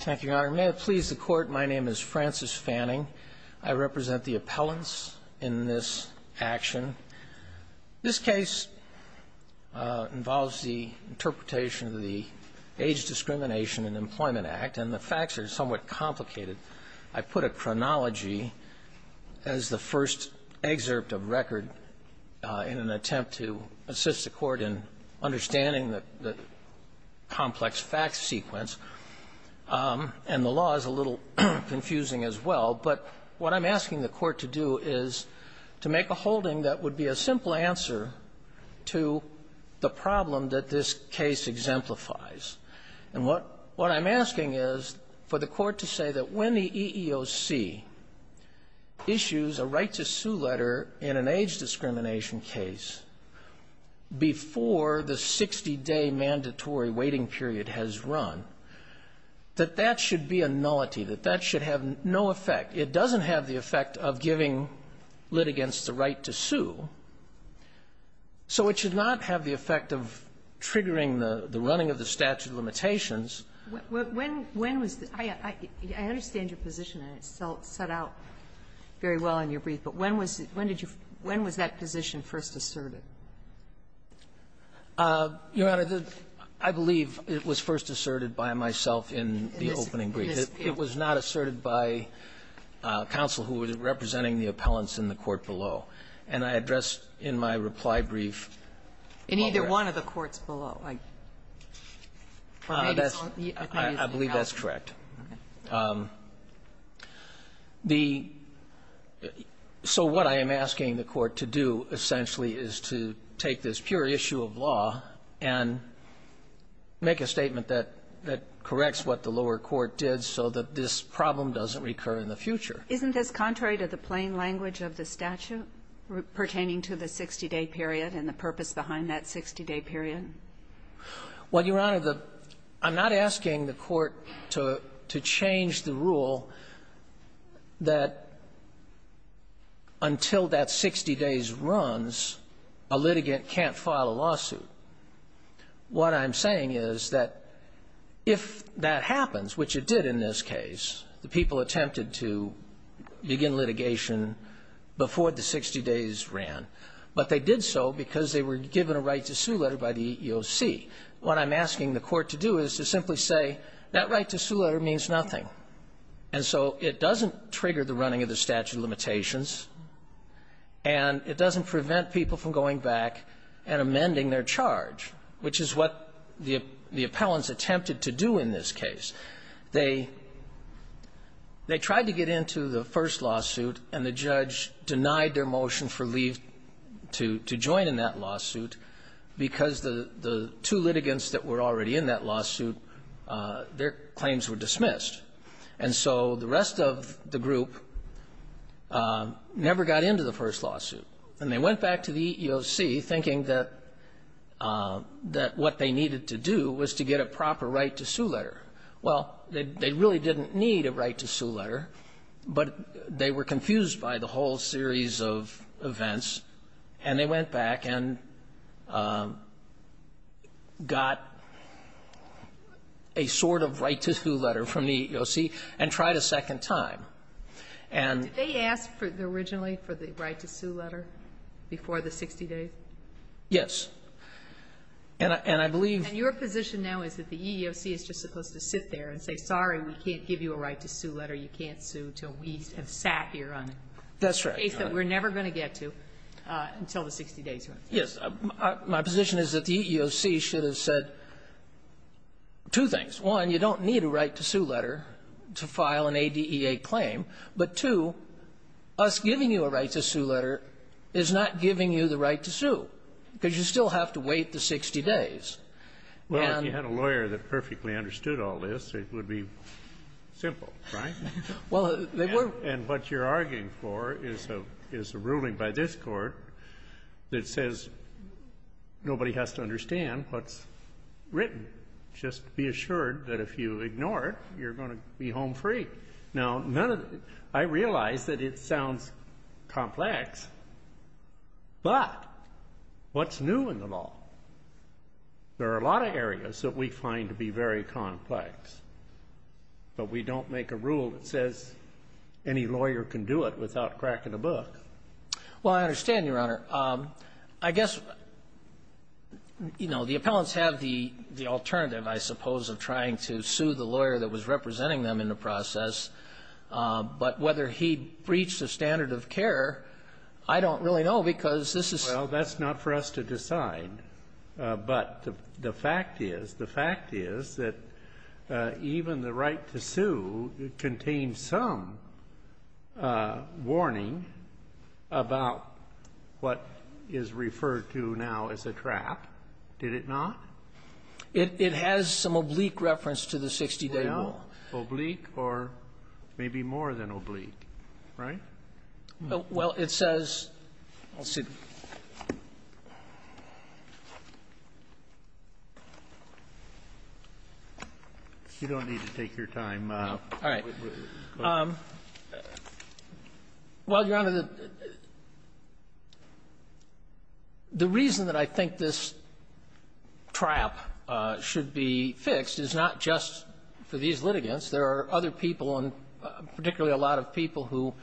Thank you, Your Honor. May it please the Court, my name is Francis Fanning. I represent the appellants in this action. This case involves the interpretation of the Age Discrimination and Employment Act and the facts are somewhat complicated. I put a chronology as the first excerpt of record in an attempt to assist the Court in understanding the complex fact sequence. And the law is a little confusing as well. But what I'm asking the Court to do is to make a holding that would be a simple answer to the problem that this case exemplifies. And what I'm asking is for the Court to say that when the EEOC issues a right-to-sue letter in an age discrimination case before the 60-day mandatory waiting period has run, that that should be a nullity, that that should have no effect. It doesn't have the effect of giving litigants the right to sue, so it should not have the effect of triggering the running of the statute of limitations. When was the – I understand your position, and it set out very well in your brief. But when was it – when did you – when was that position first asserted? Your Honor, I believe it was first asserted by myself in the opening brief. It was not asserted by counsel who was representing the appellants in the court below. And I addressed in my reply brief while we're at it. In either one of the courts below? I believe that's correct. The – so what I am asking the Court to do, essentially, is to take this pure issue of law and make a statement that corrects what the lower court did so that this problem doesn't recur in the future. Isn't this contrary to the plain language of the statute pertaining to the 60-day period and the purpose behind that 60-day period? Well, Your Honor, the – I'm not asking the Court to – to change the rule that until that 60 days runs, a litigant can't file a lawsuit. What I'm saying is that if that happens, which it did in this case, the people attempted to begin litigation before the 60 days ran, but they did so because they were given a right-to-sue letter by the EEOC. What I'm asking the Court to do is to simply say, that right-to-sue letter means nothing. And so it doesn't trigger the running of the statute of limitations, and it doesn't prevent people from going back and amending their charge, which is what the appellants attempted to do in this case. They – they tried to get into the first lawsuit, and the judge denied their motion for leave to – to join in that lawsuit because the – the two litigants that were already in that lawsuit, their claims were dismissed. And so the rest of the group never got into the first lawsuit. And they went back to the EEOC thinking that – that what they needed to do was to get a proper right-to-sue letter. Well, they – they really didn't need a right-to-sue letter, but they were confused by the whole series of events, and they went back and got a sort of right-to-sue letter from the EEOC and tried a second time. And they asked for – originally for the right-to-sue letter before the 60 days? Yes. And I – and I believe – And your position now is that the EEOC is just supposed to sit there and say, sorry, we can't give you a right-to-sue letter. You can't sue until we have sat here on a case that we're never going to get to until the 60 days are up. Yes. My position is that the EEOC should have said two things. One, you don't need a right-to-sue letter to file an ADEA claim. But, two, us giving you a right-to-sue letter is not giving you the right to sue, because you still have to wait the 60 days. Well, if you had a lawyer that perfectly understood all this, it would be simple, right? Well, they were – And what you're arguing for is a ruling by this Court that says nobody has to understand what's written. Just be assured that if you ignore it, you're going to be home free. Now, none of – I realize that it sounds complex, but what's new in the law? There are a lot of areas that we find to be very complex, but we don't make a rule that says any lawyer can do it without cracking a book. Well, I understand, Your Honor. I guess, you know, the appellants have the alternative, I suppose, of trying to sue the lawyer that was representing them in the process. But whether he breached the standard of care, I don't really know, because this is – Well, that's not for us to decide. But the fact is, the fact is that even the right to sue contains some warning about what is referred to now as a trap, did it not? It has some oblique reference to the 60-day rule. Oblique or maybe more than oblique, right? Well, it says – I'll see. You don't need to take your time. All right. Well, Your Honor, the reason that I think this trap should be fixed is not just for these litigants. There are other people, and particularly a lot of people, who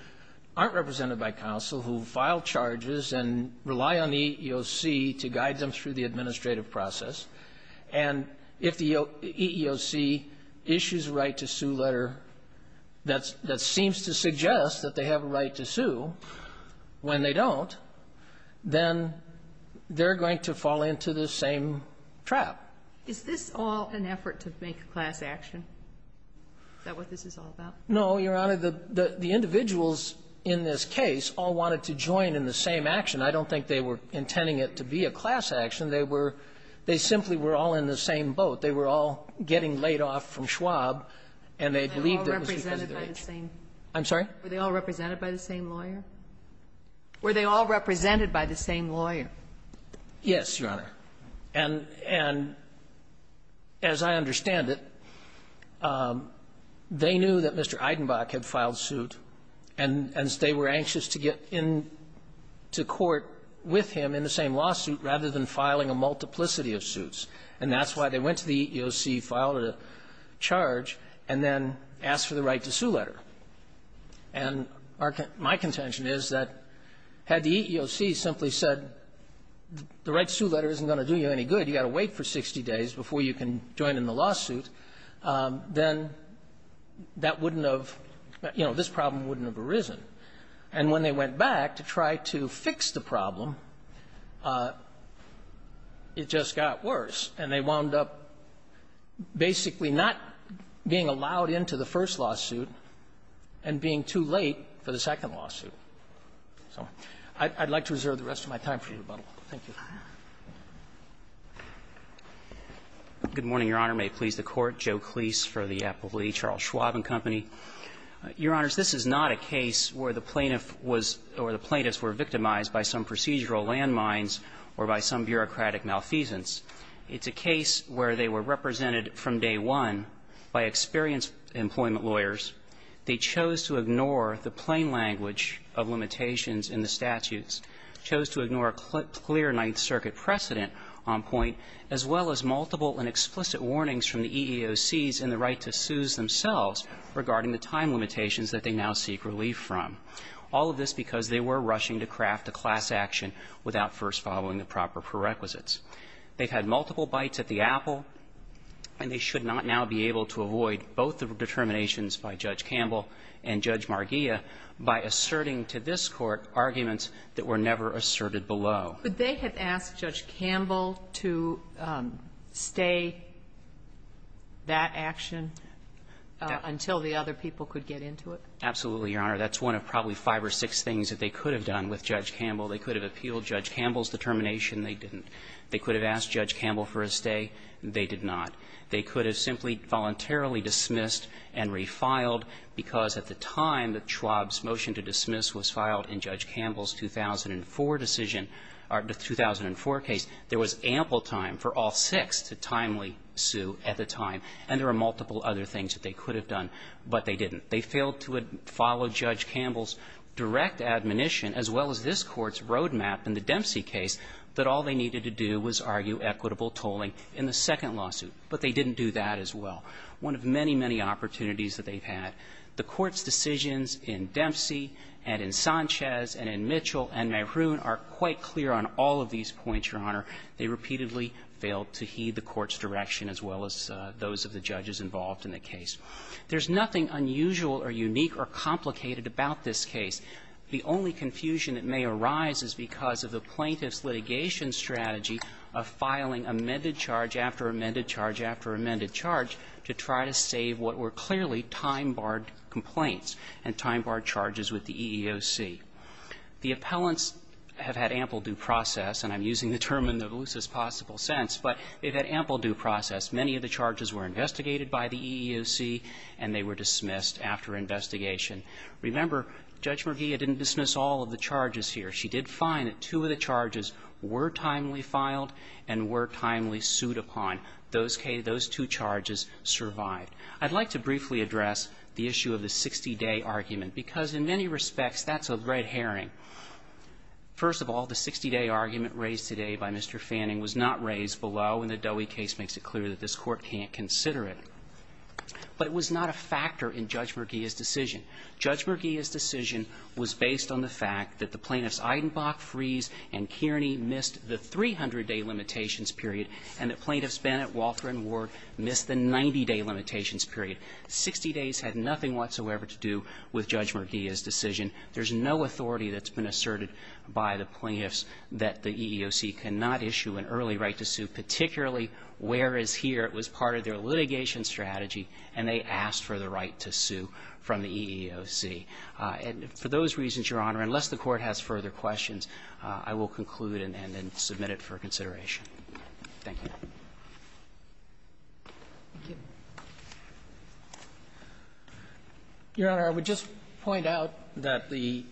aren't represented by counsel, who file charges and rely on the EEOC to guide them through the administrative process. And if the EEOC issues a right to sue letter that seems to suggest that they have a right to sue when they don't, then they're going to fall into the same trap. Is this all an effort to make a class action? Is that what this is all about? No, Your Honor. The individuals in this case all wanted to join in the same action. I don't think they were intending it to be a class action. They were – they simply were all in the same boat. They were all getting laid off from Schwab, and they believed it was because of their age. Were they all represented by the same lawyer? Were they all represented by the same lawyer? Yes, Your Honor. And as I understand it, they knew that Mr. Eidenbach had filed suit, and they were anxious to get in to court with him in the same lawsuit rather than filing a multiplicity of suits. And that's why they went to the EEOC, filed a charge, and then asked for the right to sue letter. And our – my contention is that had the EEOC simply said the right to sue letter isn't going to do you any good, you've got to wait for 60 days before you can join in the lawsuit, then that wouldn't have – you know, this problem wouldn't have arisen. And when they went back to try to fix the problem, it just got worse, and they wound up basically not being allowed in to the first lawsuit and being too late for the second lawsuit. So I'd like to reserve the rest of my time for rebuttal. Thank you. Good morning, Your Honor. May it please the Court. Joe Cleese for the Appellee, Charles Schwab and Company. Your Honors, this is not a case where the plaintiff was – or the plaintiffs were victimized by some procedural landmines or by some bureaucratic malfeasance. It's a case where they were represented from day one by experienced employment lawyers. They chose to ignore the plain language of limitations in the statutes, chose to ignore a clear Ninth Circuit precedent on point, as well as multiple and explicit warnings from the EEOCs in the right to seize themselves regarding the time limitations that they now seek relief from, all of this because they were rushing to craft a class action without first following the proper prerequisites. They've had multiple bites at the apple, and they should not now be able to avoid both the determinations by Judge Campbell and Judge Marghia by asserting to this Court arguments that were never asserted below. Could they have asked Judge Campbell to stay that action until the other people could get into it? Absolutely, Your Honor. That's one of probably five or six things that they could have done with Judge Campbell. They could have appealed Judge Campbell's determination. They didn't. They could have asked Judge Campbell for a stay. They did not. They could have simply voluntarily dismissed and refiled because at the time that they were in Judge Campbell's 2004 decision or the 2004 case, there was ample time for all six to timely sue at the time, and there were multiple other things that they could have done, but they didn't. They failed to follow Judge Campbell's direct admonition, as well as this Court's roadmap in the Dempsey case, that all they needed to do was argue equitable tolling in the second lawsuit, but they didn't do that as well. One of many, many opportunities that they've had, the Court's decisions in Dempsey and in Sanchez and in Mitchell and Maroon are quite clear on all of these points, Your Honor. They repeatedly failed to heed the Court's direction as well as those of the judges involved in the case. There's nothing unusual or unique or complicated about this case. The only confusion that may arise is because of the plaintiff's litigation strategy of filing amended charge after amended charge after amended charge to try to save what were clearly time-barred complaints and time-barred charges, which was with the EEOC. The appellants have had ample due process, and I'm using the term in the loosest possible sense, but they've had ample due process. Many of the charges were investigated by the EEOC, and they were dismissed after investigation. Remember, Judge Merguia didn't dismiss all of the charges here. She did find that two of the charges were timely filed and were timely sued upon. Those two charges survived. I'd like to briefly address the issue of the 60-day argument, because in many respects, that's a red herring. First of all, the 60-day argument raised today by Mr. Fanning was not raised below, and the Dowie case makes it clear that this Court can't consider it. But it was not a factor in Judge Merguia's decision. Judge Merguia's decision was based on the fact that the plaintiffs Eidenbach, Freese, and Kearney missed the 300-day limitations period and that plaintiffs Bennett, Walter, and Ward missed the 90-day limitations period. Sixty days had nothing whatsoever to do with Judge Merguia's decision. There's no authority that's been asserted by the plaintiffs that the EEOC cannot issue an early right to sue, particularly whereas here it was part of their litigation strategy, and they asked for the right to sue from the EEOC. And for those reasons, Your Honor, unless the Court has further questions, I will conclude and then submit it for consideration. Thank you. Thank you. Your Honor, I would just point out that the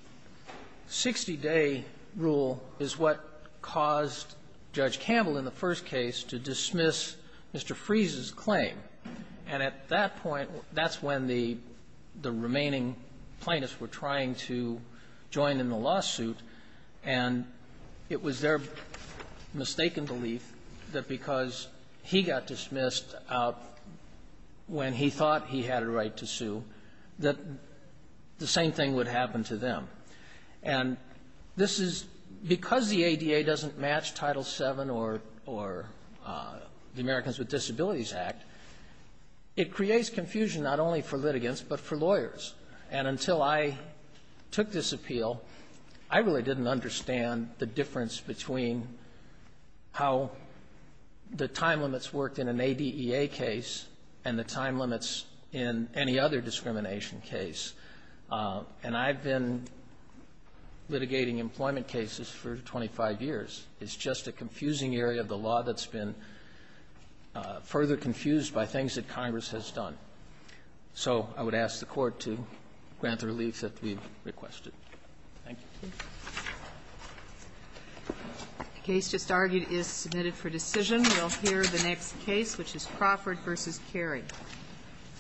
60-day rule is what caused Judge Campbell in the first case to dismiss Mr. Freese's claim. And at that point, that's when the remaining plaintiffs were trying to join in the belief that because he got dismissed when he thought he had a right to sue, that the same thing would happen to them. And this is because the ADA doesn't match Title VII or the Americans with Disabilities Act, it creates confusion not only for litigants, but for lawyers. And until I took this appeal, I really didn't understand the difference between how the time limits worked in an ADEA case and the time limits in any other discrimination case. And I've been litigating employment cases for 25 years. It's just a confusing area of the law that's been further confused by things that Congress has done. So I would ask the Court to grant the relief that we've requested. Thank you. The case just argued is submitted for decision. We'll hear the next case, which is Crawford v. Carey.